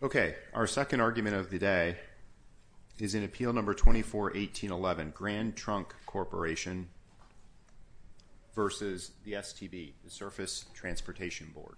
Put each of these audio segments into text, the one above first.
Okay, our second argument of the day is in appeal number 24-1811, Grand Trunk Corporation v. STB, the Surface Transportation Board.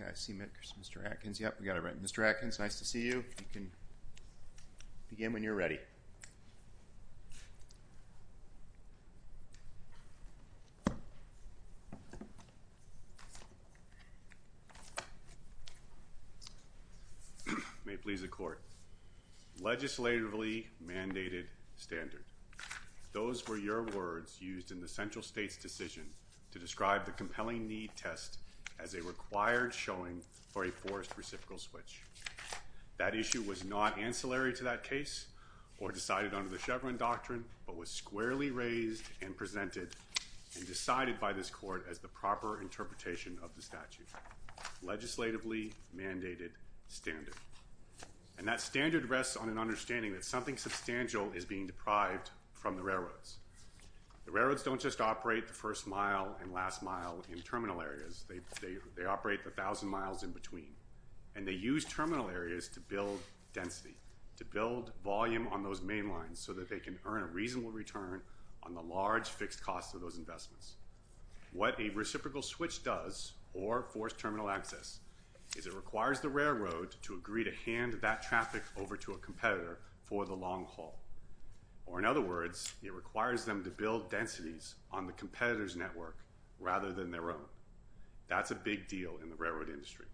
Okay, I see Mr. Atkins, yep, we got it right. All right, Mr. Atkins, nice to see you, you can begin when you're ready. May it please the Court, legislatively mandated standards, those were your words used in the central state's decision to describe the compelling need test as a required showing for a forced reciprocal switch. That issue was not ancillary to that case or decided under the Chevron doctrine but was squarely raised and presented and decided by this Court as the proper interpretation of the statute, legislatively mandated standard. And that standard rests on an understanding that something substantial is being deprived from the railroads. The railroads don't just operate the first mile and last mile in terminal areas, they operate 1,000 miles in between, and they use terminal areas to build density, to build volume on those main lines so that they can earn a reasonable return on the large fixed cost of those investments. What a reciprocal switch does, or forced terminal access, is it requires the railroad to agree to hand that traffic over to a competitor for the long haul. Or in other words, it requires them to build densities on the competitor's network rather than their own. That's a big deal in the railroad industry,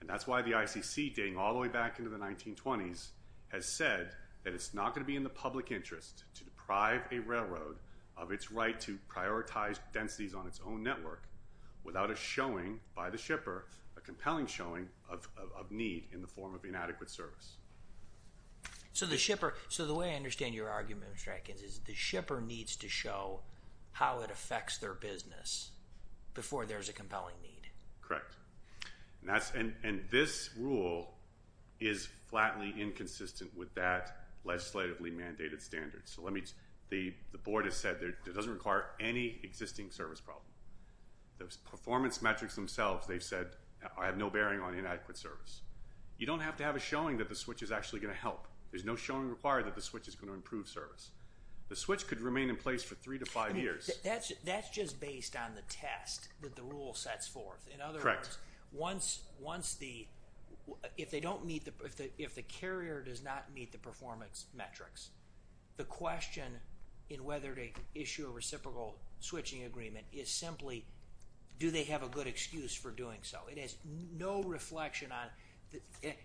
and that's why the ICC, dating all the way back into the 1920s, has said that it's not going to be in the public interest to deprive a railroad of its right to prioritize densities on its own network without a showing by the shipper, a compelling showing of need in the form of inadequate service. So the way I understand your argument, Mr. Atkins, is the shipper needs to show how it affects their business before there's a compelling need. And this rule is flatly inconsistent with that legislatively mandated standard. So let me, the board has said it doesn't require any existing service problem. The performance metrics themselves, they've said, I have no bearing on inadequate service. You don't have to have a showing that the switch is actually going to help. There's no showing required that the switch is going to improve service. The switch could remain in place for three to five years. That's just based on the test that the rule sets forth. In other words, once the, if they don't meet the, if the carrier does not meet the performance metrics, the question in whether to issue a reciprocal switching agreement is simply do they have a good excuse for doing so? It has no reflection on,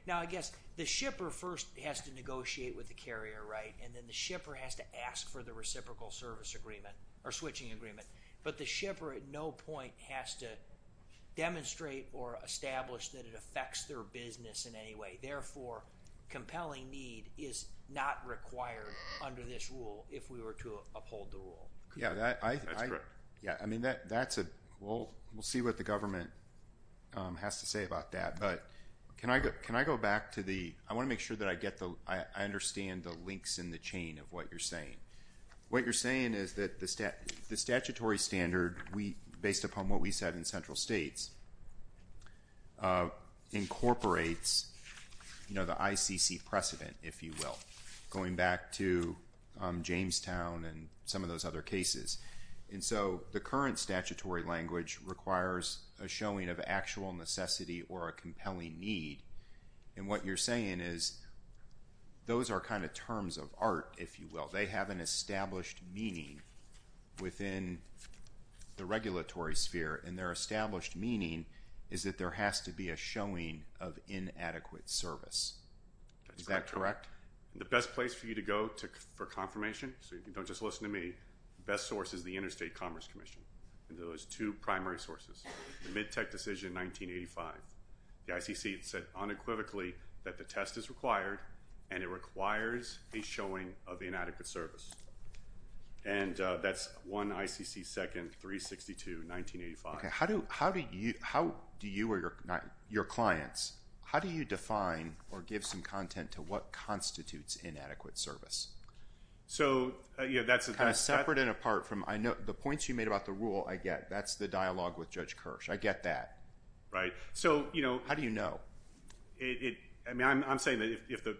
now I guess the shipper first has to negotiate with the carrier, right? And then the shipper has to ask for the reciprocal service agreement or switching agreement. But the shipper at no point has to demonstrate or establish that it affects their business in any way. Therefore, compelling need is not required under this rule if we were to uphold the rule. Yeah, that's correct. Yeah, I mean, that's a, we'll see what the government has to say about that. But can I go back to the, I want to make sure that I get the, I understand the links in the chain of what you're saying. What you're saying is that the stat, the statutory standard, we, based upon what we said in central states incorporates, you know, the ICC precedent, if you will. Going back to Jamestown and some of those other cases. And so the current statutory language requires a showing of actual necessity or a compelling need. And what you're saying is those are kind of terms of art, if you will. They have an established meaning within the regulatory sphere and their established meaning is that there has to be a showing of inadequate service. Is that correct? The best place for you to go for confirmation, so you don't just listen to me, the best source is the Interstate Commerce Commission and those two primary sources, the mid-tech decision in 1985. The ICC said unequivocally that the test is required and it requires a showing of inadequate service. And that's one ICC second, 362, 1985. How do you, how do you or your clients, how do you define or give some content to what constitutes inadequate service? So yeah, that's a kind of separate and apart from, I know the points you made about the rule, I get. That's the dialogue with Judge Kirsch. I get that. Right. So, you know. How do you know? It, I mean, I'm saying that if the,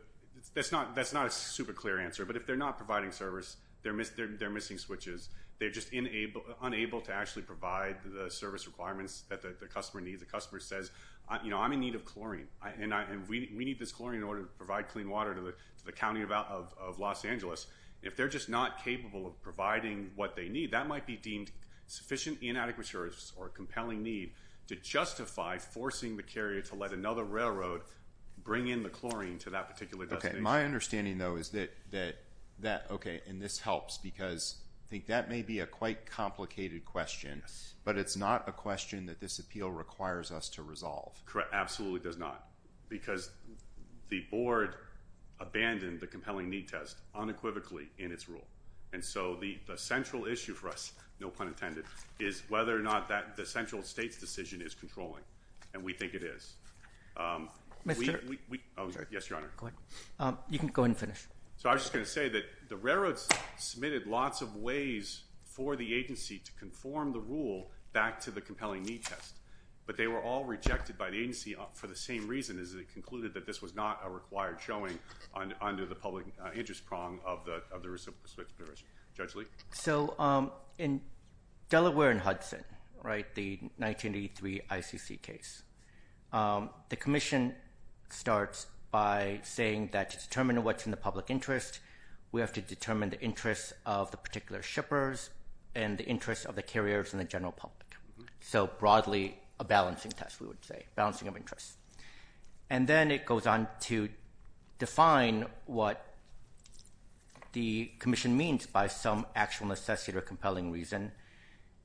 that's not, that's not a super clear answer, but if they're not providing service, they're missing switches. They're just unable to actually provide the service requirements that the customer needs. The customer says, you know, I'm in need of chlorine and we need this chlorine in order to provide clean water to the County of Los Angeles. If they're just not capable of providing what they need, that might be deemed sufficient inadequate service or compelling need to justify forcing the carrier to let another railroad bring in the chlorine to that particular destination. My understanding though, is that, that, that, okay, and this helps because I think that may be a quite complicated question, but it's not a question that this appeal requires us to resolve. Correct. Absolutely does not because the board abandoned the compelling need test unequivocally in its rule. And so the, the central issue for us, no pun intended, is whether or not that the central state's decision is controlling. And we think it is. Um, we, we, we, oh, yes, Your Honor, you can go and finish. So I was just going to say that the railroads submitted lots of ways for the agency to conform the rule back to the compelling need test, but they were all rejected by the agency for the same reason is that it concluded that this was not a required showing on under the compelling interest prong of the, of the respective jurors. Judge Lee. So, um, in Delaware and Hudson, right, the 1983 ICC case, um, the commission starts by saying that to determine what's in the public interest, we have to determine the interests of the particular shippers and the interest of the carriers and the general public. So broadly a balancing test, we would say, balancing of interests. And then it goes on to define what the commission means by some actual necessity or compelling reason.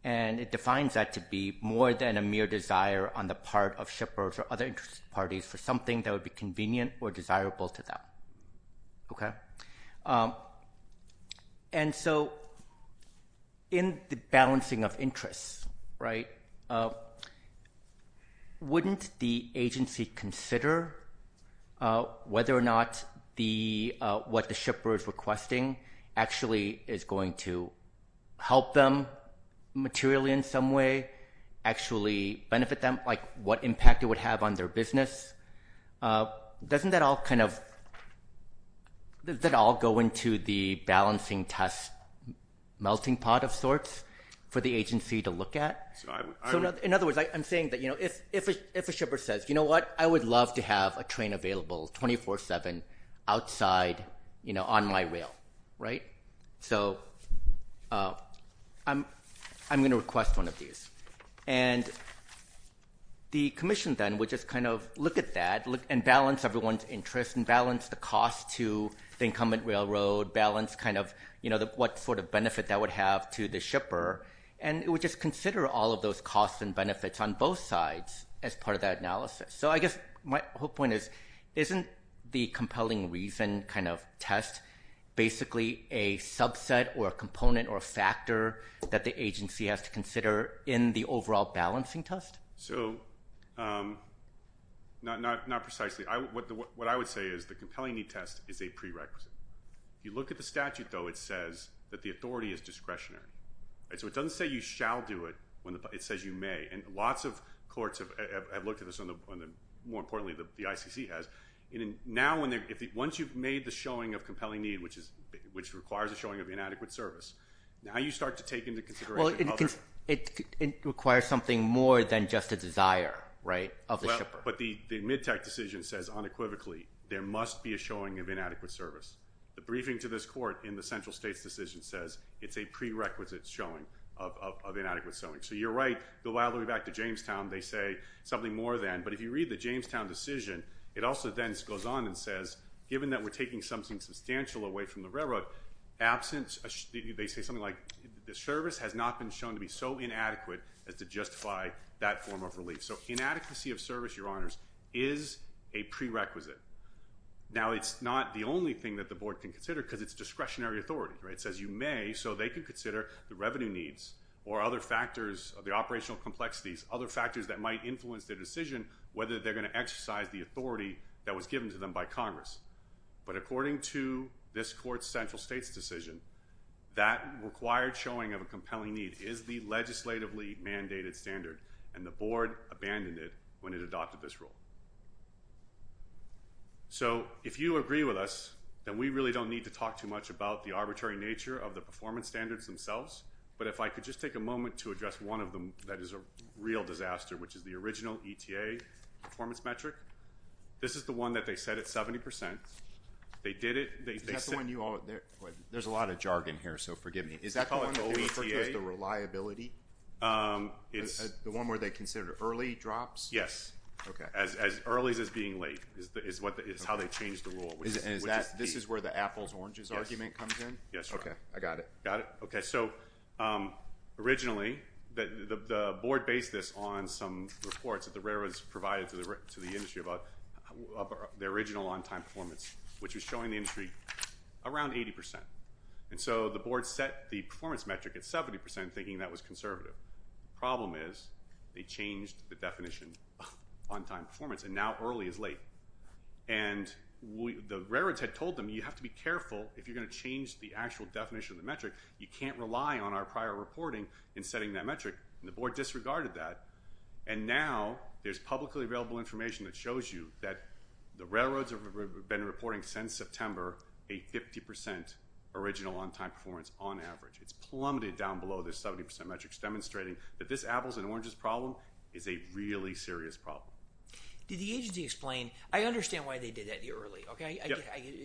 And it defines that to be more than a mere desire on the part of shippers or other interest parties for something that would be convenient or desirable to them. Okay. Yeah. And so in the balancing of interests, right, uh, wouldn't the agency consider, uh, whether or not the, uh, what the shipper is requesting actually is going to help them materially in some way, actually benefit them, like what impact it would have on their business. Uh, doesn't that all kind of, that all go into the balancing test, melting pot of sorts for the agency to look at. So in other words, I'm saying that, you know, if, if, if a shipper says, you know what, I would love to have a train available 24 seven outside, you know, on my rail, right. So, uh, I'm, I'm going to request one of these and the commission then would just kind of look at that and balance everyone's interest and balance the cost to the incumbent railroad balance kind of, you know, the, what sort of benefit that would have to the shipper. And it would just consider all of those costs and benefits on both sides as part of that analysis. So I guess my whole point is, isn't the compelling reason kind of test basically a subset or a component or a factor that the agency has to consider in the overall balancing test? So, um, not, not, not precisely. I, what the, what I would say is the compelling need test is a prerequisite. You look at the statute though, it says that the authority is discretionary. So it doesn't say you shall do it when it says you may. And lots of courts have looked at this on the, on the, more importantly, the ICC has in and now when they're, if once you've made the showing of compelling need, which is, which requires a showing of inadequate service, now you start to take into consideration. Well, it can, it requires something more than just a desire, right? Of the shipper. But the mid tech decision says unequivocally there must be a showing of inadequate service. The briefing to this court in the central states decision says it's a prerequisite showing of inadequate sewing. So you're right. Go all the way back to Jamestown. They say something more than, but if you read the Jamestown decision, it also then goes on and says, given that we're taking something substantial away from the railroad absence, they say something like the service has not been shown to be so inadequate as to justify that form of relief. So inadequacy of service, your honors is a prerequisite. Now it's not the only thing that the board can consider because it's discretionary authority, right? It says you may, so they can consider the revenue needs or other factors of the operational complexities, other factors that might influence their decision, whether they're going to exercise the authority that was given to them by Congress. But according to this court central states decision, that required showing of a compelling need is the legislatively mandated standard and the board abandoned it when it adopted this rule. So if you agree with us, then we really don't need to talk too much about the arbitrary nature of the performance standards themselves. But if I could just take a moment to address one of them, that is a real disaster, which is the original ETA performance metric. This is the one that they said at 70%. They did it. They said when you all there, there's a lot of jargon here, so forgive me. Is that the one where they considered early drops? Yes. Okay. As, as early as, as being late is the, is what the, is how they changed the rule, which is that this is where the apples oranges argument comes in. Yes. Okay. I got it. Got it. Okay. So, um, originally the, the, the board based this on some reports that the railroads provided to the, to the industry about their original on time performance, which was showing the industry around 80%. And so the board set the performance metric at 70% thinking that was conservative. Problem is they changed the definition on time performance and now early is late. And we, the railroads had told them, you have to be careful if you're going to change the actual definition of the metric. You can't rely on our prior reporting in setting that metric and the board disregarded that. And now there's publicly available information that shows you that the railroads have been reporting since September, a 50% original on time performance on average, it's plummeted down below the 70% metrics demonstrating that this apples and oranges problem is a really serious problem. Did the agency explain, I understand why they did that the early, okay,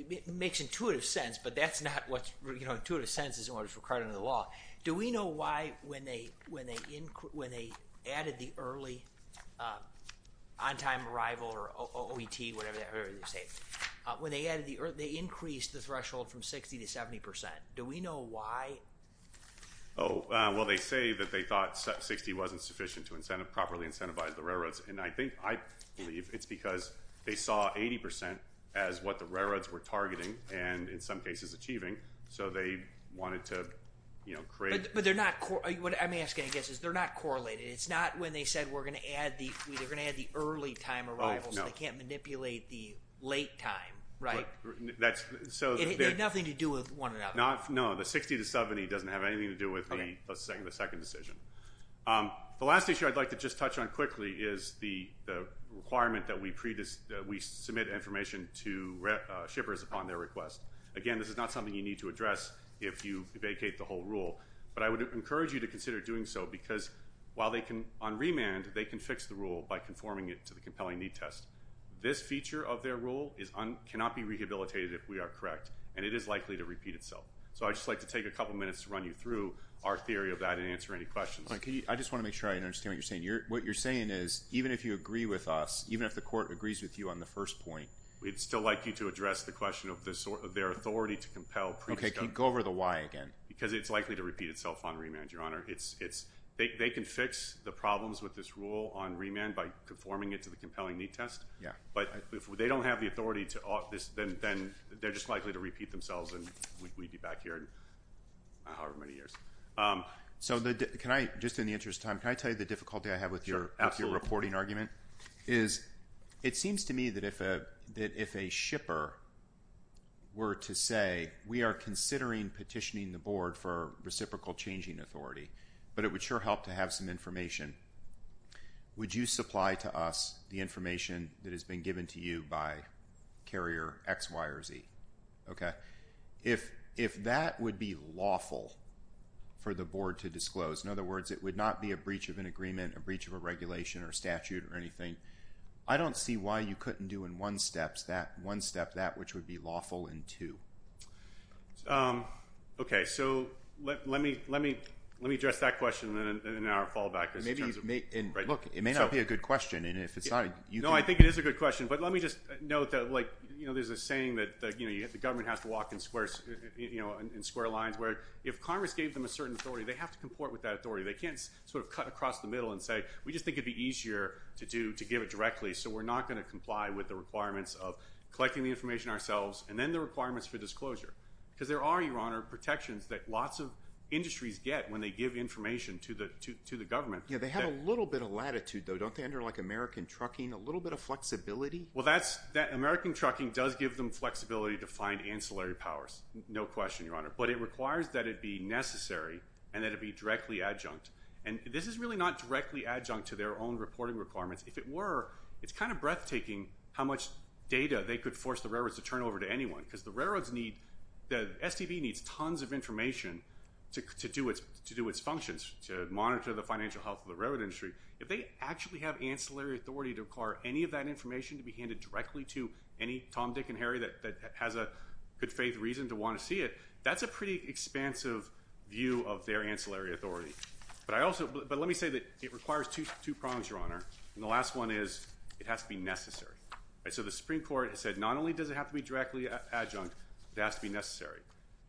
it makes intuitive sense, but that's not what's intuitive sentences in order for credit of the law. Do we know why when they, when they, when they added the early, um, on time arrival or OET, whatever they were saying, uh, when they added the, or they increased the threshold from 60 to 70%. Do we know why? Oh, uh, well they say that they thought set 60 wasn't sufficient to incentive properly incentivize the railroads. And I think I believe it's because they saw 80% as what the railroads were targeting. And in some cases achieving. So they wanted to, you know, create, but they're not, what I'm asking, I guess, is they're not correlated. It's not when they said, we're going to add the, they're going to add the early time arrivals and they can't manipulate the late time, right? That's so nothing to do with one or not, no, the 60 to 70 doesn't have anything to do with the second, the second decision. Um, the last issue I'd like to just touch on quickly is the, the requirement that we submit information to, uh, shippers upon their request. Again, this is not something you need to address if you vacate the whole rule, but I would encourage you to consider doing so because while they can on remand, they can fix the rule by conforming it to the compelling need test. This feature of their rule is on, cannot be rehabilitated if we are correct and it is likely to repeat itself. So I just like to take a couple minutes to run you through our theory of that and answer any questions. I just want to make sure I understand what you're saying. You're, what you're saying is even if you agree with us, even if the court agrees with you on the first point, we'd still like you to address the question of the sort of their authority to compel. Okay. Can you go over the why again? Because it's likely to repeat itself on remand, your honor. It's, it's, they, they can fix the problems with this rule on remand by conforming it to the compelling need test. Yeah. But if they don't have the authority to this, then, then they're just likely to repeat themselves and we'd be back here however many years. So the, can I, just in the interest of time, can I tell you the difficulty I have with your reporting argument is it seems to me that if a, that if a shipper were to say, we are considering petitioning the board for reciprocal changing authority, but it would sure help to have some information. Would you supply to us the information that has been given to you by carrier X, Y or Z? Okay. If, if that would be lawful for the board to disclose, in other words, it would not be a breach of an agreement, a breach of a regulation or statute or anything. I don't see why you couldn't do in one steps that one step, that which would be lawful in two. Okay. So let, let me, let me, let me address that question and then our fallback is in terms of right. Look, it may not be a good question and if it's not, you know, I think it is a good question, but let me just note that like, you know, there's a saying that the, you know, you have to walk in squares, you know, in square lines where if Congress gave them a certain authority, they have to comport with that authority. They can't sort of cut across the middle and say, we just think it'd be easier to do to give it directly. So we're not going to comply with the requirements of collecting the information ourselves and then the requirements for disclosure because there are your honor protections that lots of industries get when they give information to the, to, to the government. Yeah. They have a little bit of latitude though. Don't they enter like American trucking, a little bit of flexibility. Well, that's that American trucking does give them flexibility to find ancillary powers. No question, your honor, but it requires that it be necessary and that it'd be directly adjunct and this is really not directly adjunct to their own reporting requirements. If it were, it's kind of breathtaking how much data they could force the railroads to turn over to anyone because the railroads need, the STV needs tons of information to, to do its, to do its functions, to monitor the financial health of the railroad industry. If they actually have ancillary authority to require any of that information to be handed directly to any Tom, Dick and Harry that has a good faith reason to want to see it. That's a pretty expansive view of their ancillary authority, but I also, but let me say that it requires two, two prongs, your honor, and the last one is it has to be necessary. Right? So the Supreme court has said, not only does it have to be directly adjunct, it has to be necessary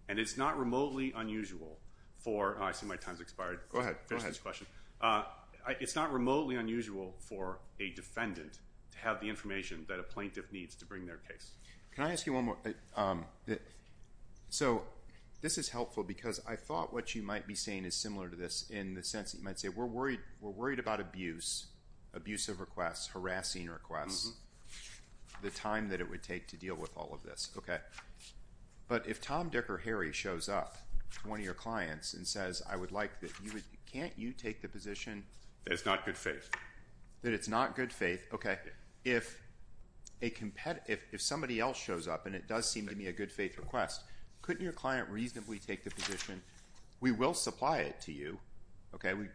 and it's not remotely unusual for, I see my time's expired. Go ahead. Go ahead. I'm trying to answer the question. Uh, I, it's not remotely unusual for a defendant to have the information that a plaintiff needs to bring their case. Can I ask you one more? Um, so this is helpful because I thought what you might be saying is similar to this in the sense that you might say we're worried, we're worried about abuse, abusive requests, harassing requests, the time that it would take to deal with all of this. Okay. But if Tom, Dick or Harry shows up to one of your clients and says, I would like that you would, can't you take the position that it's not good faith, that it's not good faith. Okay. If a competitor, if somebody else shows up and it does seem to be a good faith request, couldn't your client reasonably take the position? We will supply it to you. Okay. We,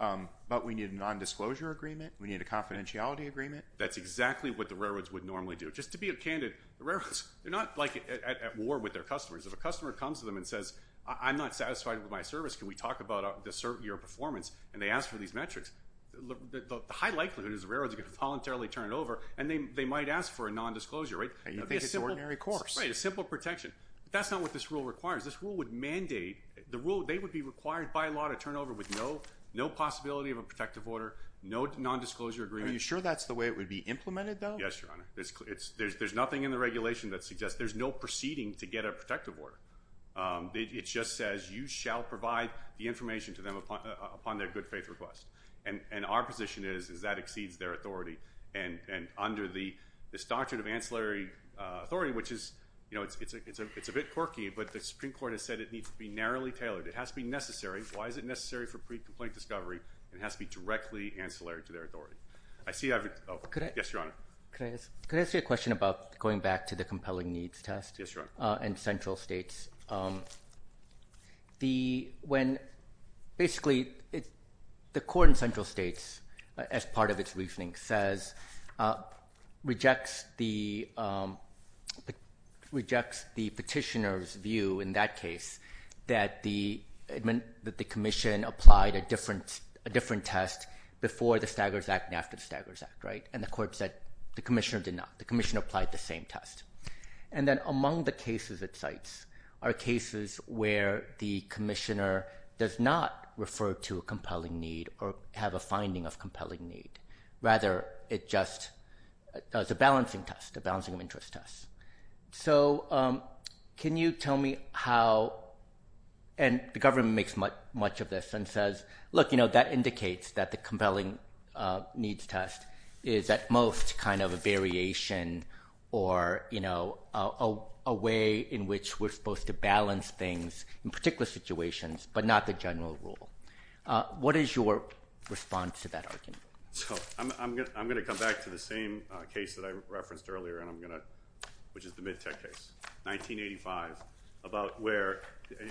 um, but we need a nondisclosure agreement. We need a confidentiality agreement. That's exactly what the railroads would normally do. Just to be a candidate, the railroads, they're not like at war with their customers. If a customer comes to them and says, I'm not satisfied with my service. Can we talk about a certain year of performance? And they ask for these metrics, the high likelihood is the railroads are going to voluntarily turn it over and they, they might ask for a nondisclosure, right? I think it's ordinary course, right? A simple protection. That's not what this rule requires. This rule would mandate the rule. They would be required by law to turn over with no, no possibility of a protective order, no nondisclosure agreement. Are you sure that's the way it would be implemented though? Yes, Your Honor. It's there's, there's nothing in the regulation that suggests there's no proceeding to get a protective order. Um, it just says you shall provide the information to them upon, upon their good faith request. And our position is, is that exceeds their authority and, and under the, the statute of ancillary, uh, authority, which is, you know, it's, it's a, it's a, it's a bit quirky, but the Supreme Court has said it needs to be narrowly tailored. It has to be necessary. Why is it necessary for pre-complaint discovery and it has to be directly ancillary to their authority. I see. Oh, yes, Your Honor. Can I ask, can I ask you a question about going back to the compelling needs test, uh, and central states, um, the, when basically it, the court in central states, uh, as part of its reasoning says, uh, rejects the, um, rejects the petitioner's view in that case that the admin, that the commission applied a different, a different test before the staggers act and after the staggers act. Right. And the court said the commissioner did not, the commission applied the same test. And then among the cases it cites are cases where the commissioner does not refer to a compelling need or have a finding of compelling need. Rather it just does a balancing test, a balancing of interest test. So, um, can you tell me how, and the government makes much of this and says, look, you know, that indicates that the compelling, uh, needs test is at most kind of a variation or, you know, uh, a way in which we're supposed to balance things in particular situations, but not the general rule. Uh, what is your response to that argument? So I'm, I'm gonna, I'm gonna come back to the same case that I referenced earlier and I'm gonna, which is the mid tech case, 1985 about where,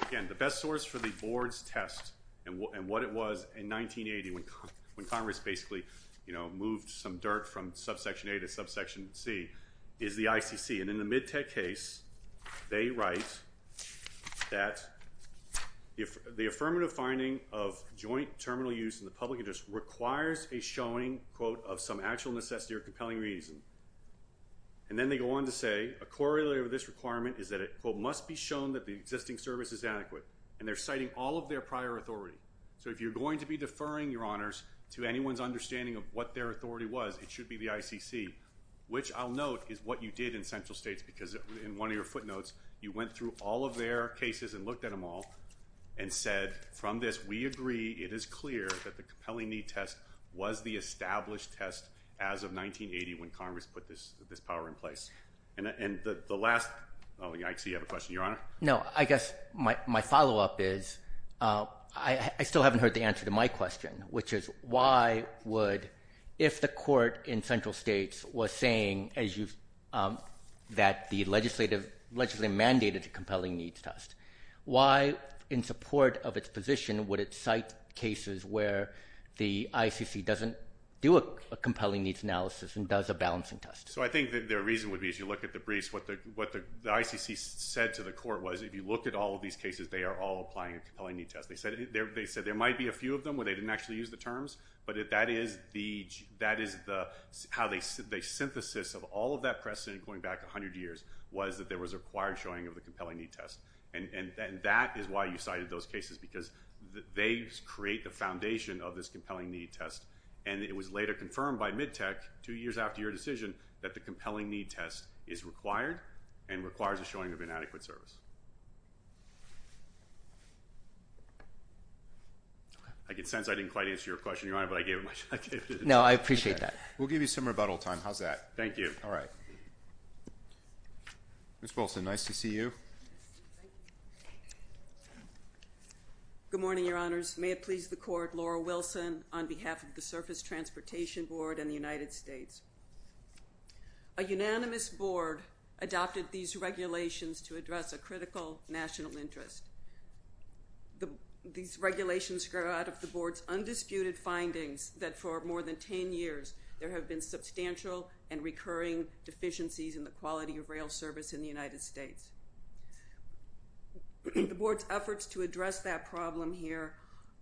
again, the best source for the boards test and what, and what it was in 1980 when, when Congress basically, you know, moved some dirt from subsection a to subsection C is the ICC. And in the mid tech case, they write that if the affirmative finding of joint terminal use in the public interest requires a showing quote of some actual necessity or compelling reason, and then they go on to say a corollary of this requirement is that it must be shown that the existing service is adequate and they're citing all of their prior authority. So if you're going to be deferring your honors to anyone's understanding of what their authority was, it should be the ICC, which I'll note is what you did in central states because in one of your footnotes, you went through all of their cases and looked at them all and said from this, we agree. It is clear that the compelling need test was the established test as of 1980 when Congress put this, this power in place and, and the, the last, oh, I see you have a question, your question. No, I guess my, my followup is, uh, I, I still haven't heard the answer to my question, which is why would, if the court in central states was saying as you've, um, that the legislative legislative mandated compelling needs test, why in support of its position, would it cite cases where the ICC doesn't do a compelling needs analysis and does a balancing test? So I think that their reason would be, as you look at the briefs, what the, what the, the ICC said to the court was, if you look at all of these cases, they are all applying a compelling need test. They said, they said there might be a few of them where they didn't actually use the terms, but if that is the, that is the, how they, the synthesis of all of that precedent going back a hundred years was that there was a required showing of the compelling need test. And, and, and that is why you cited those cases because they create the foundation of this compelling need test. And it was later confirmed by MidTech two years after your decision that the compelling need test is required and requires a showing of inadequate service. I get sense. I didn't quite answer your question. You're on it, but I gave it, I gave it. No, I appreciate that. We'll give you some rebuttal time. How's that? Thank you. All right. Ms. Wilson. Nice to see you. Good morning. Your honors. May it please the court. Laura Wilson on behalf of the surface transportation board and the United States. A unanimous board adopted these regulations to address a critical national interest. These regulations grow out of the board's undisputed findings that for more than 10 years, there have been substantial and recurring deficiencies in the quality of rail service in the United States. The board's efforts to address that problem here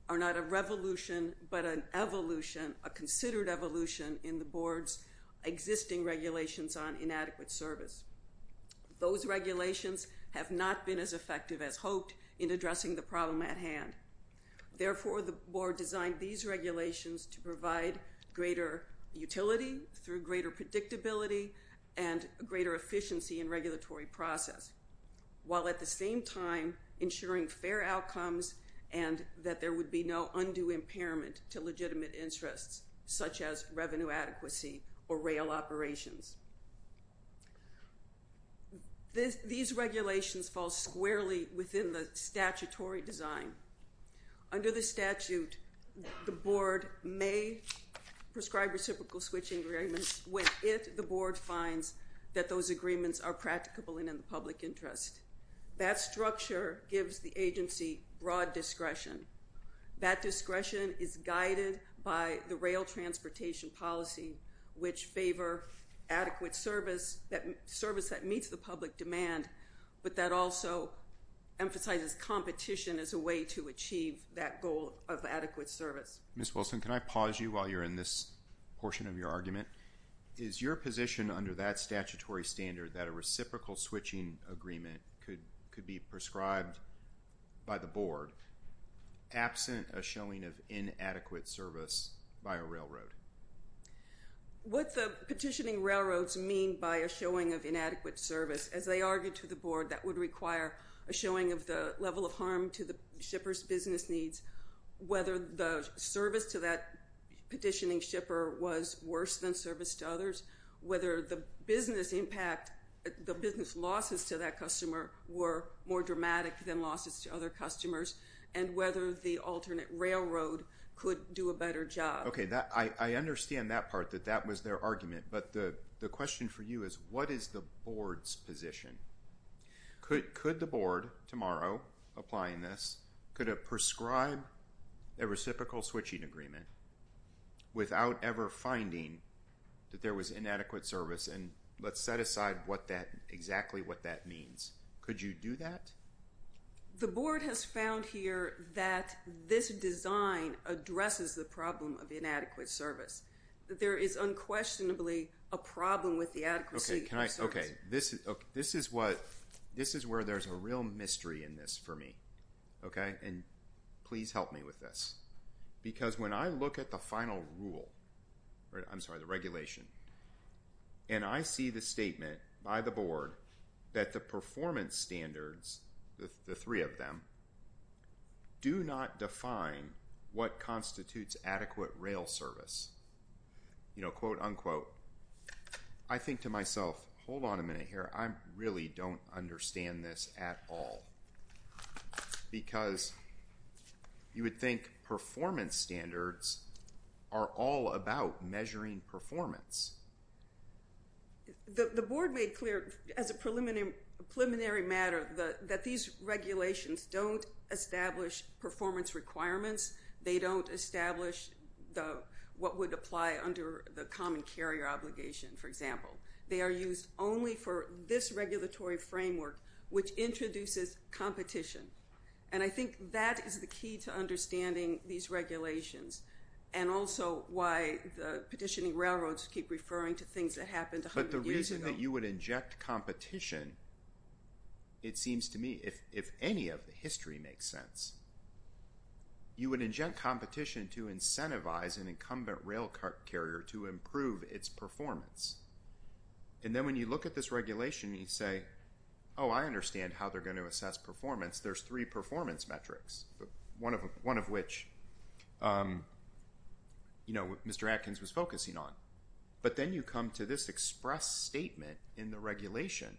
are not a revolution, but an evolution, a considered evolution in the board's existing regulations on inadequate service. Those regulations have not been as effective as hoped in addressing the problem at hand. Therefore, the board designed these regulations to provide greater utility through greater predictability and greater efficiency in regulatory process, while at the same time, ensuring fair outcomes and that there would be no undue impairment to legitimate interests, such as revenue adequacy or rail operations. These regulations fall squarely within the statutory design. Under the statute, the board may prescribe reciprocal switching agreements when it, the board finds that those agreements are practicable and in the public interest. That structure gives the agency broad discretion. That discretion is guided by the rail transportation policy, which favor adequate service, that service that meets the public demand, but that also emphasizes competition as a way to achieve that goal of adequate service. Ms. Wilson, can I pause you while you're in this portion of your argument? Is your position under that statutory standard that a reciprocal switching agreement could be prescribed by the board absent a showing of inadequate service by a railroad? What the petitioning railroads mean by a showing of inadequate service, as they argued to the board that would require a showing of the level of harm to the shipper's business needs, whether the service to that petitioning shipper was worse than service to others, whether the business impact, the business losses to that customer were more dramatic than losses to other customers, and whether the alternate railroad could do a better job. Okay. I understand that part, that that was their argument, but the question for you is what is the board's position? Could the board, tomorrow, applying this, could it prescribe a reciprocal switching agreement without ever finding that there was inadequate service, and let's set aside what that, exactly what that means. Could you do that? The board has found here that this design addresses the problem of inadequate service. There is unquestionably a problem with the adequacy of the service. Okay, this is what, this is where there's a real mystery in this for me, okay, and please help me with this, because when I look at the final rule, I'm sorry, the regulation, and I see the statement by the board that the performance standards, the three of them, do not define what constitutes adequate rail service, you know, quote, unquote. So, I think to myself, hold on a minute here, I really don't understand this at all, because you would think performance standards are all about measuring performance. The board made clear, as a preliminary matter, that these regulations don't establish performance requirements, they don't establish what would apply under the common carrier obligation, for example. They are used only for this regulatory framework, which introduces competition, and I think that is the key to understanding these regulations, and also why the petitioning railroads keep referring to things that happened 100 years ago. But the reason that you would inject competition, it seems to me, if any of the history makes sense, you would inject competition to incentivize an incumbent rail carrier to improve its performance, and then when you look at this regulation, you say, oh, I understand how they're going to assess performance. There's three performance metrics, one of which, you know, Mr. Atkins was focusing on, but then you come to this express statement in the regulation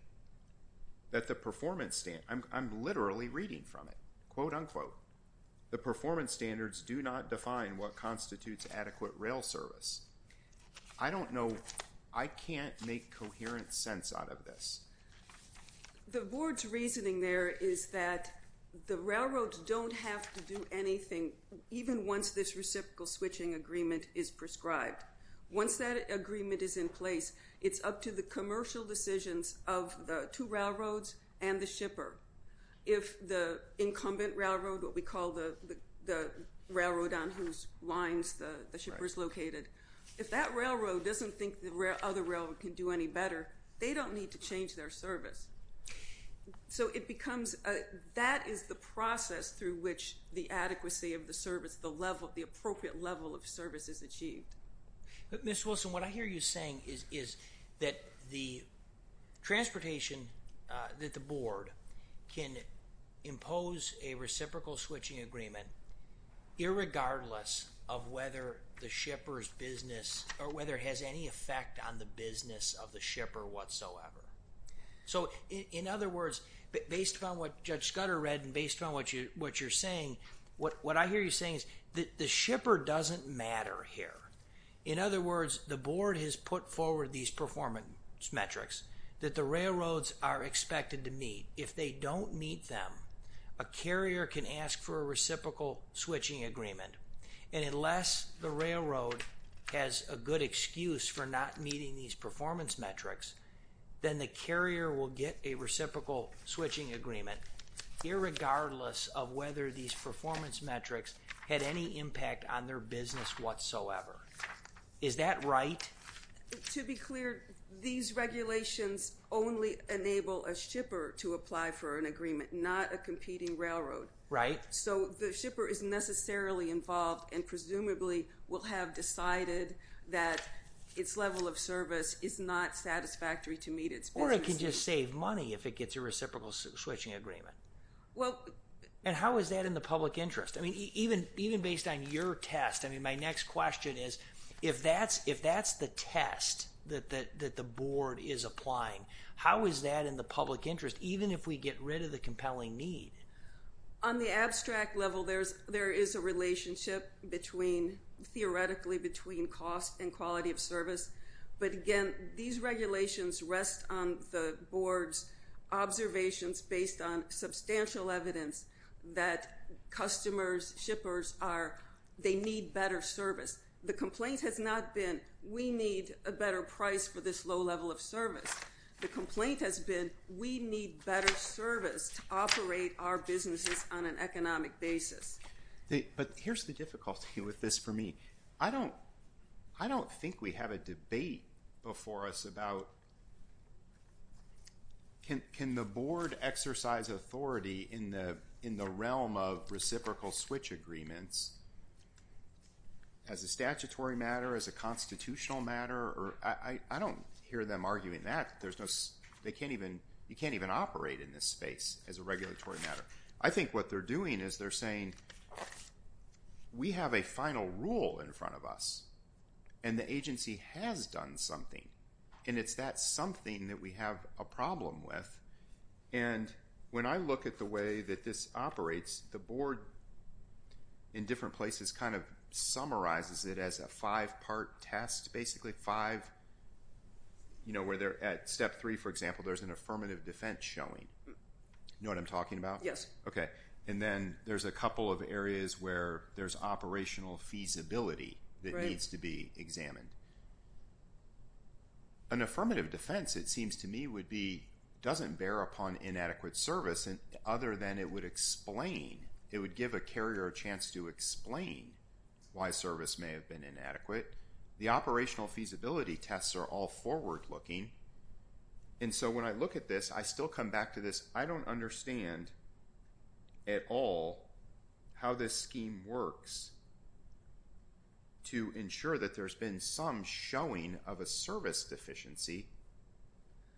that the performance, I'm literally reading from it, quote, unquote, the performance standards do not define what constitutes adequate rail service. I don't know, I can't make coherent sense out of this. The board's reasoning there is that the railroads don't have to do anything, even once this reciprocal switching agreement is prescribed. Once that agreement is in place, it's up to the commercial decisions of the two railroads and the shipper. If the incumbent railroad, what we call the railroad on whose lines the shipper's located, if that railroad doesn't think the other railroad can do any better, they don't need to change their service. So it becomes, that is the process through which the adequacy of the service, the level, the appropriate level of service is achieved. But Ms. Wilson, what I hear you saying is that the transportation, that the board can impose a reciprocal switching agreement, irregardless of whether the shipper's business or whether it has any effect on the business of the shipper whatsoever. So in other words, based upon what Judge Scudder read and based upon what you're saying, what I hear you saying is that the shipper doesn't matter here. In other words, the board has put forward these performance metrics that the railroads are expected to meet. If they don't meet them, a carrier can ask for a reciprocal switching agreement, and unless the railroad has a good excuse for not meeting these performance metrics, then the carrier will get a reciprocal switching agreement, irregardless of whether these performance metrics had any impact on their business whatsoever. Is that right? To be clear, these regulations only enable a shipper to apply for an agreement, not a competing railroad. So the shipper is necessarily involved and presumably will have decided that its level of service is not satisfactory to meet its business needs. Or it can just save money if it gets a reciprocal switching agreement. And how is that in the public interest? I mean, even based on your test, my next question is, if that's the test that the board is applying, how is that in the public interest, even if we get rid of the compelling need? On the abstract level, there is a relationship theoretically between cost and quality of service, but again, these regulations rest on the board's observations based on substantial evidence that customers, shippers, they need better service. The complaint has not been, we need a better price for this low level of service. The complaint has been, we need better service to operate our businesses on an economic basis. But here's the difficulty with this for me. I don't think we have a debate before us about, can the board exercise authority in the realm of reciprocal switch agreements as a statutory matter, as a constitutional matter? I don't hear them arguing that. There's no, they can't even, you can't even operate in this space as a regulatory matter. I think what they're doing is they're saying, we have a final rule in front of us, and the agency has done something, and it's that something that we have a problem with. And when I look at the way that this operates, the board in different places kind of summarizes it as a five-part test, basically five, you know, where they're at step three, for example, there's an affirmative defense showing, you know what I'm talking about? Yes. And then there's a couple of areas where there's operational feasibility that needs to be examined. An affirmative defense, it seems to me, would be, doesn't bear upon inadequate service, other than it would explain, it would give a carrier a chance to explain why service may have been inadequate. The operational feasibility tests are all forward-looking. And so, when I look at this, I still come back to this, I don't understand at all how this scheme works to ensure that there's been some showing of a service deficiency,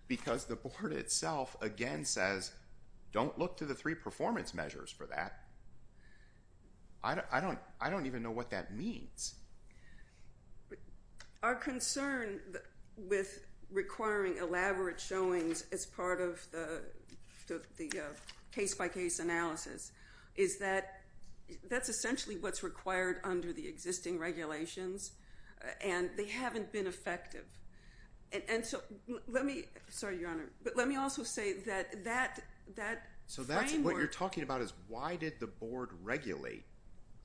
because the board itself, again, says, don't look to the three performance measures for that. I don't even know what that means. Our concern with requiring elaborate showings as part of the case-by-case analysis is that that's essentially what's required under the existing regulations, and they haven't been effective. And so, let me, sorry, Your Honor, but let me also say that that framework— So that's what you're talking about is why did the board regulate?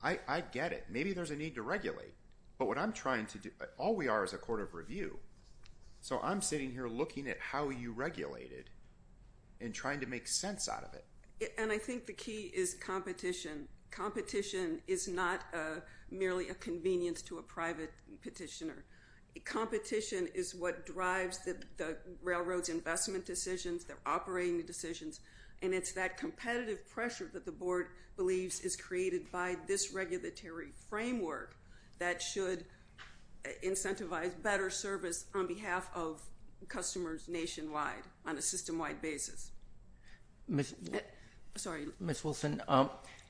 I get it. I get it. Maybe there's a need to regulate. But what I'm trying to do, all we are is a court of review, so I'm sitting here looking at how you regulated and trying to make sense out of it. And I think the key is competition. Competition is not merely a convenience to a private petitioner. Competition is what drives the railroad's investment decisions, their operating decisions, and it's that competitive pressure that the board believes is created by this regulatory framework that should incentivize better service on behalf of customers nationwide on a system-wide basis. Sorry. Ms. Wilson,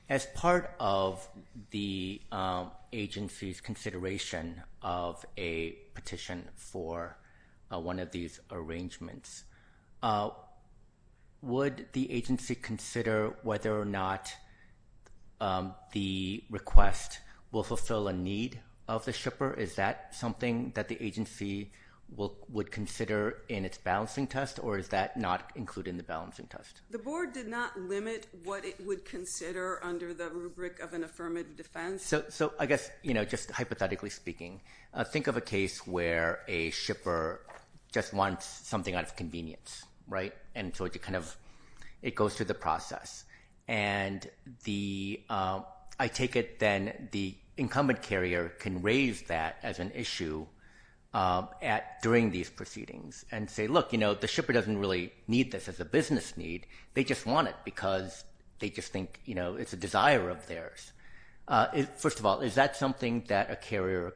as part of the agency's consideration of a petition for one of these arrangements, would the agency consider whether or not the request will fulfill a need of the shipper? Is that something that the agency would consider in its balancing test, or is that not included in the balancing test? The board did not limit what it would consider under the rubric of an affirmative defense. So I guess, you know, just hypothetically speaking, think of a case where a shipper just wants something out of convenience, right? And so it goes through the process. And I take it then the incumbent carrier can raise that as an issue during these proceedings and say, look, you know, the shipper doesn't really need this as a business need. They just want it because they just think, you know, it's a desire of theirs. First of all, is that something that a carrier,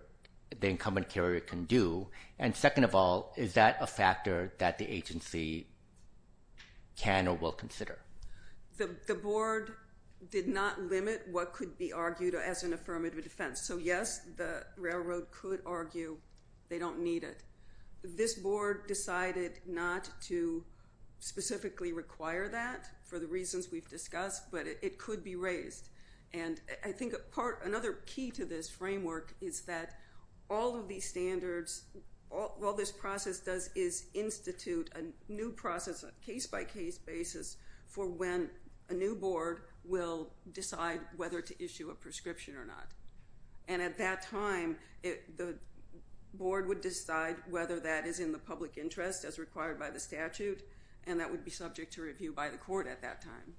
the incumbent carrier, can do? And second of all, is that a factor that the agency can or will consider? The board did not limit what could be argued as an affirmative defense. So yes, the railroad could argue they don't need it. This board decided not to specifically require that for the reasons we've discussed, but it could be raised. And I think another key to this framework is that all of these standards, all this process does is institute a new process on a case-by-case basis for when a new board will decide whether to issue a prescription or not. And at that time, the board would decide whether that is in the public interest as required by the statute, and that would be subject to review by the court at that time.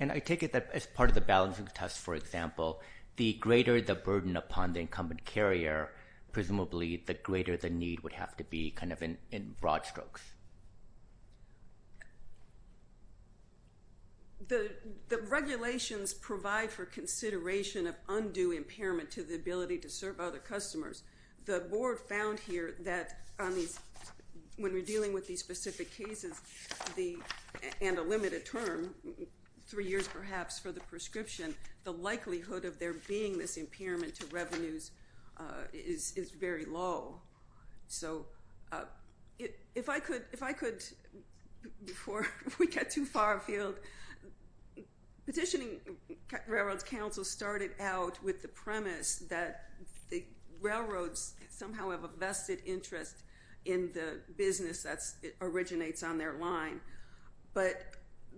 And I take it that as part of the balancing test, for example, the greater the burden upon the incumbent carrier, presumably the greater the need would have to be kind of in broad strokes. The regulations provide for consideration of undue impairment to the ability to serve other customers. The board found here that when we're dealing with these specific cases and a limited term, three years perhaps for the prescription, the likelihood of there being this impairment to revenues is very low. So if I could, before we get too far afield, Petitioning Railroad's counsel started out with the premise that the railroads somehow have a vested interest in the business that originates on their line. But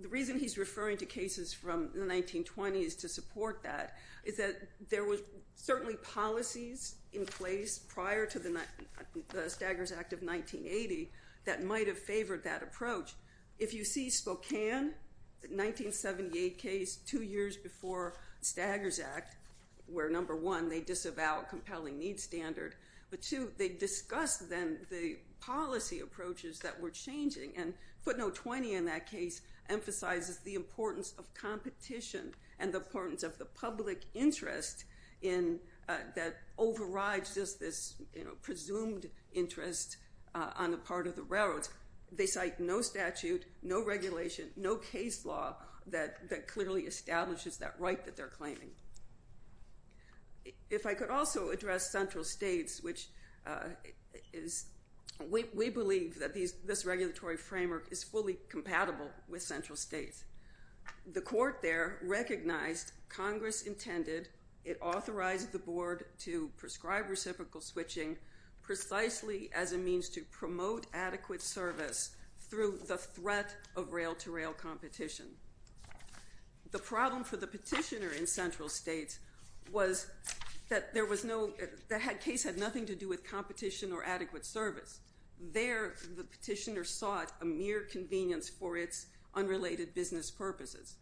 the reason he's referring to cases from the 1920s to support that is that there were certainly policies in place prior to the Staggers Act of 1980 that might have favored that approach. If you see Spokane, the 1978 case, two years before the Staggers Act, where number one, they disavow compelling needs standard, but two, they discussed then the policy approaches that were changing, and footnote 20 in that case emphasizes the importance of competition and the importance of the public interest that overrides just this presumed interest on the part of the railroads. They cite no statute, no regulation, no case law that clearly establishes that right that they're claiming. If I could also address central states, which we believe that this regulatory framework is fully compatible with central states. The court there recognized Congress intended, it authorized the board to prescribe reciprocal switching precisely as a means to promote adequate service through the threat of rail-to-rail competition. The problem for the petitioner in central states was that the case had nothing to do with competition or adequate service. There, the petitioner sought a mere convenience for its unrelated business purposes.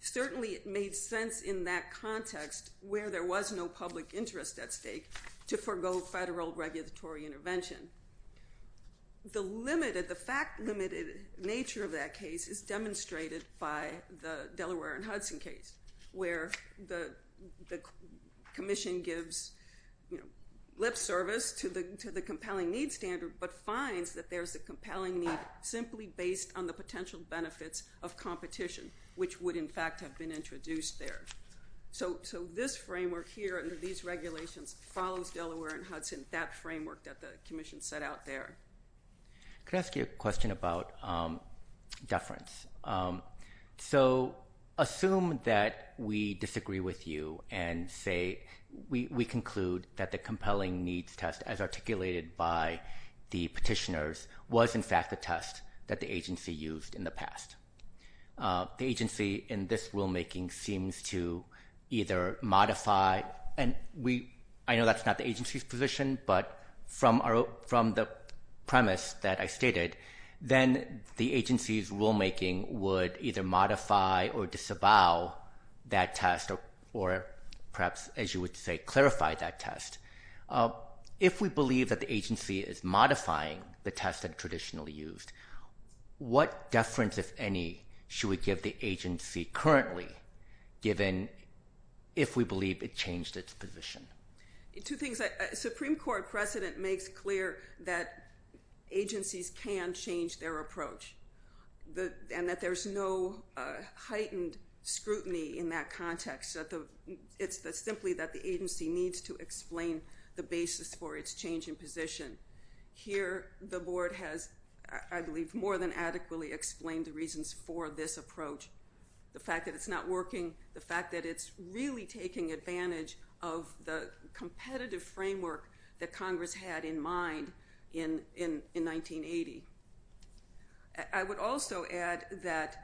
Certainly it made sense in that context where there was no public interest at stake to forgo federal regulatory intervention. The fact-limited nature of that case is demonstrated by the Delaware and Hudson case, where the commission gives lip service to the compelling needs standard, but finds that there's a compelling need simply based on the potential benefits of competition, which would in fact have been introduced there. So this framework here under these regulations follows Delaware and Hudson, that framework that the commission set out there. Can I ask you a question about deference? So assume that we disagree with you and say we conclude that the compelling needs test as articulated by the petitioners was in fact the test that the agency used in the past. The agency in this rulemaking seems to either modify, and I know that's not the agency's position, but from the premise that I stated, then the agency's rulemaking would either modify or disavow that test or perhaps, as you would say, clarify that test. If we believe that the agency is modifying the test that traditionally used, what deference if any should we give the agency currently, given if we believe it changed its position? Two things. Supreme Court precedent makes clear that agencies can change their approach, and that there's no heightened scrutiny in that context. It's simply that the agency needs to explain the basis for its change in position. Here the board has, I believe, more than adequately explained the reasons for this approach. The fact that it's not working, the fact that it's really taking advantage of the competitive framework that Congress had in mind in 1980. I would also add that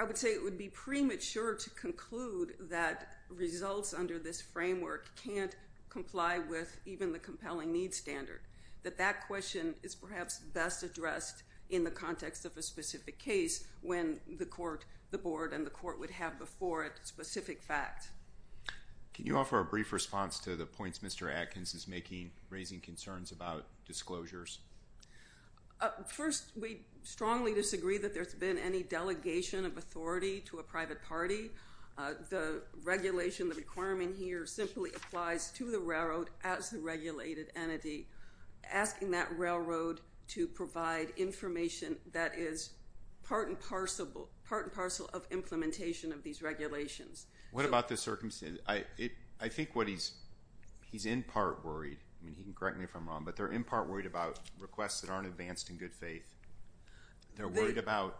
I would say it would be premature to conclude that results under this framework can't comply with even the compelling needs standard, that that question is perhaps best addressed in the context of a specific case when the court, the board and the court would have before it specific facts. Can you offer a brief response to the points Mr. Atkins is making, raising concerns about disclosures? First, we strongly disagree that there's been any delegation of authority to a private party. The regulation, the requirement here simply applies to the railroad as the regulated entity, asking that railroad to provide information that is part and parcel of implementation of these regulations. What about the circumstances? I think what he's in part worried, correct me if I'm wrong, but they're in part worried about requests that aren't advanced in good faith. They're worried about,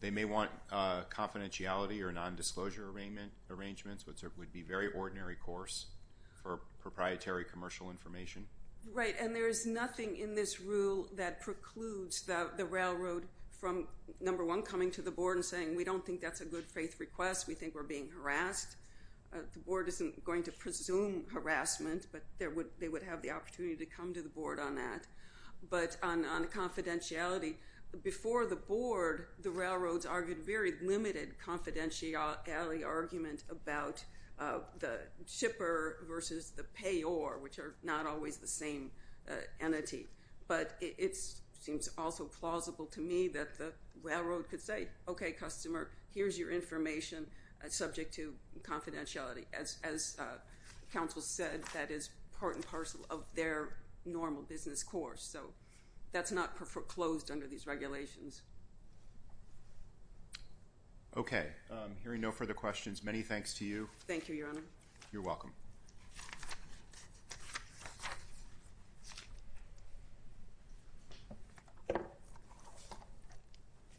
they may want confidentiality or non-disclosure arrangements, which would be very ordinary course for proprietary commercial information. Right, and there is nothing in this rule that precludes the railroad from, number one, coming to the board and saying, we don't think that's a good faith request, we think we're being harassed. The board isn't going to presume harassment, but they would have the opportunity to come to the board on that. But on confidentiality, before the board, the railroads argued very limited confidentiality argument about the shipper versus the payor, which are not always the same entity. But it seems also plausible to me that the railroad could say, okay, customer, here's your information subject to confidentiality. As counsel said, that is part and parcel of their normal business course. So that's not foreclosed under these regulations. Okay, I'm hearing no further questions. Many thanks to you. Thank you, Your Honor. You're welcome.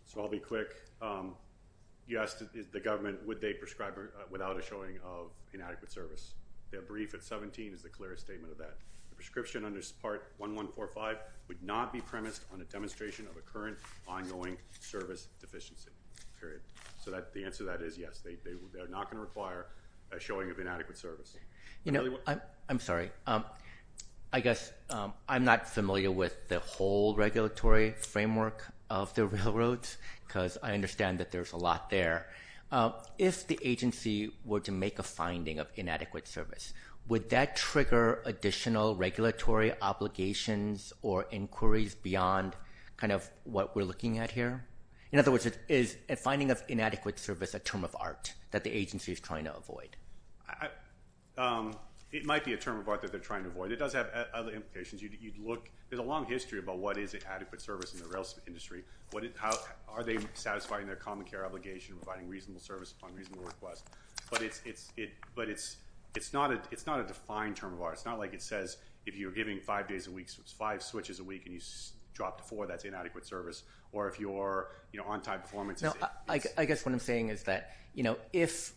So I'll be quick. You asked the government, would they prescribe without a showing of inadequate service? Their brief at 17 is the clearest statement of that. The prescription under part 1145 would not be premised on a demonstration of a current ongoing service deficiency, period. So the answer to that is yes, they're not going to require a showing of inadequate service. I'm sorry, I guess I'm not familiar with the whole regulatory framework of the railroads, because I understand that there's a lot there. If the agency were to make a finding of inadequate service, would that trigger additional regulatory obligations or inquiries beyond kind of what we're looking at here? In other words, is a finding of inadequate service a term of art that the agency is trying to avoid? It might be a term of art that they're trying to avoid. It does have other implications. There's a long history about what is an adequate service in the rail industry. Are they satisfying their common care obligation, providing reasonable service upon reasonable request? But it's not a defined term of art. It's not like it says if you're giving five days a week, five switches a week, and you drop to four, that's inadequate service. Or if you're on-time performance is it. I guess what I'm saying is that if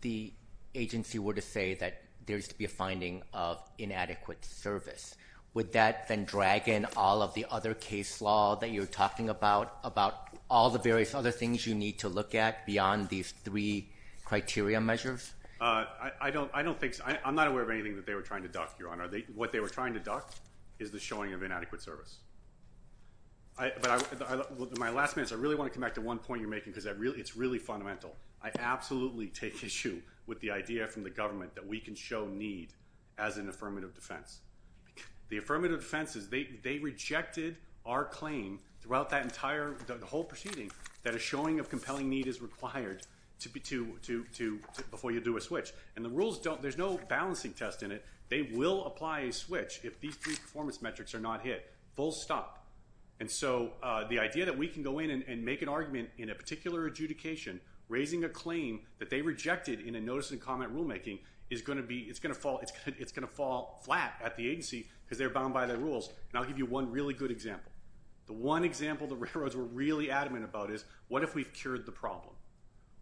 the agency were to say that there's to be a finding of inadequate service, would that then drag in all of the other case law that you're talking about, about all the various other things you need to look at beyond these three criteria measures? I don't think so. I'm not aware of anything that they were trying to duck, Your Honor. What they were trying to duck is the showing of inadequate service. But my last minutes, I really want to come back to one point you're making, because it's really fundamental. I absolutely take issue with the idea from the government that we can show need as an affirmative defense. The affirmative defense is they rejected our claim throughout the whole proceeding that a showing of compelling need is required before you do a switch. And the rules don't. There's no balancing test in it. They will apply a switch if these three performance metrics are not hit, full stop. And so the idea that we can go in and make an argument in a particular adjudication, raising a claim that they rejected in a notice and comment rulemaking, it's going to fall flat at the agency, because they're bound by the rules. And I'll give you one really good example. The one example the railroads were really adamant about is, what if we've cured the problem?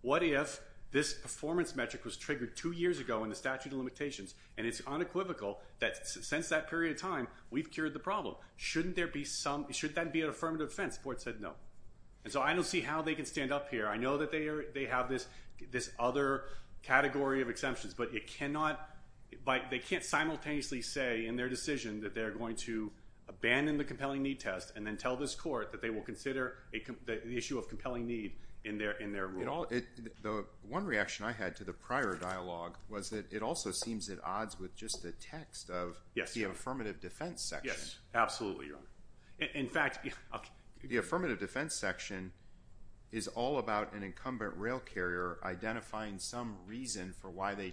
What if this performance metric was triggered two years ago in the statute of limitations, and it's unequivocal that since that period of time, we've cured the problem? Shouldn't that be an affirmative defense? The court said no. And so I don't see how they can stand up here. I know that they have this other category of exemptions, but they can't simultaneously say in their decision that they're going to abandon the compelling need test and then tell this court that they will consider the issue of compelling need in their rule. The one reaction I had to the prior dialogue was that it also seems at odds with just the text of the affirmative defense section. Absolutely, Your Honor. In fact, the affirmative defense section is all about an incumbent rail carrier identifying some reason for why they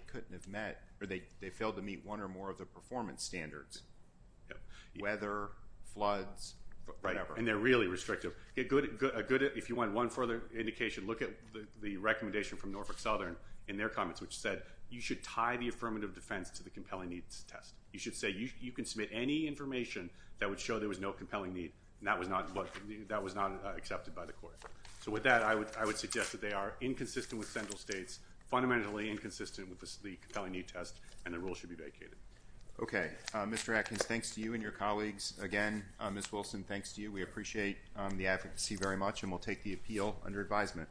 failed to meet one or more of the performance standards, weather, floods, whatever. And they're really restrictive. If you want one further indication, look at the recommendation from Norfolk Southern in their comments, which said you should tie the affirmative defense to the compelling needs test. You should say you can submit any information that would show there was no compelling need and that was not accepted by the court. So with that, I would suggest that they are inconsistent with central states, fundamentally inconsistent with the compelling need test, and the rule should be vacated. Okay. Mr. Atkins, thanks to you and your colleagues. Again, Ms. Wilson, thanks to you. We appreciate the advocacy very much, and we'll take the appeal under advisement.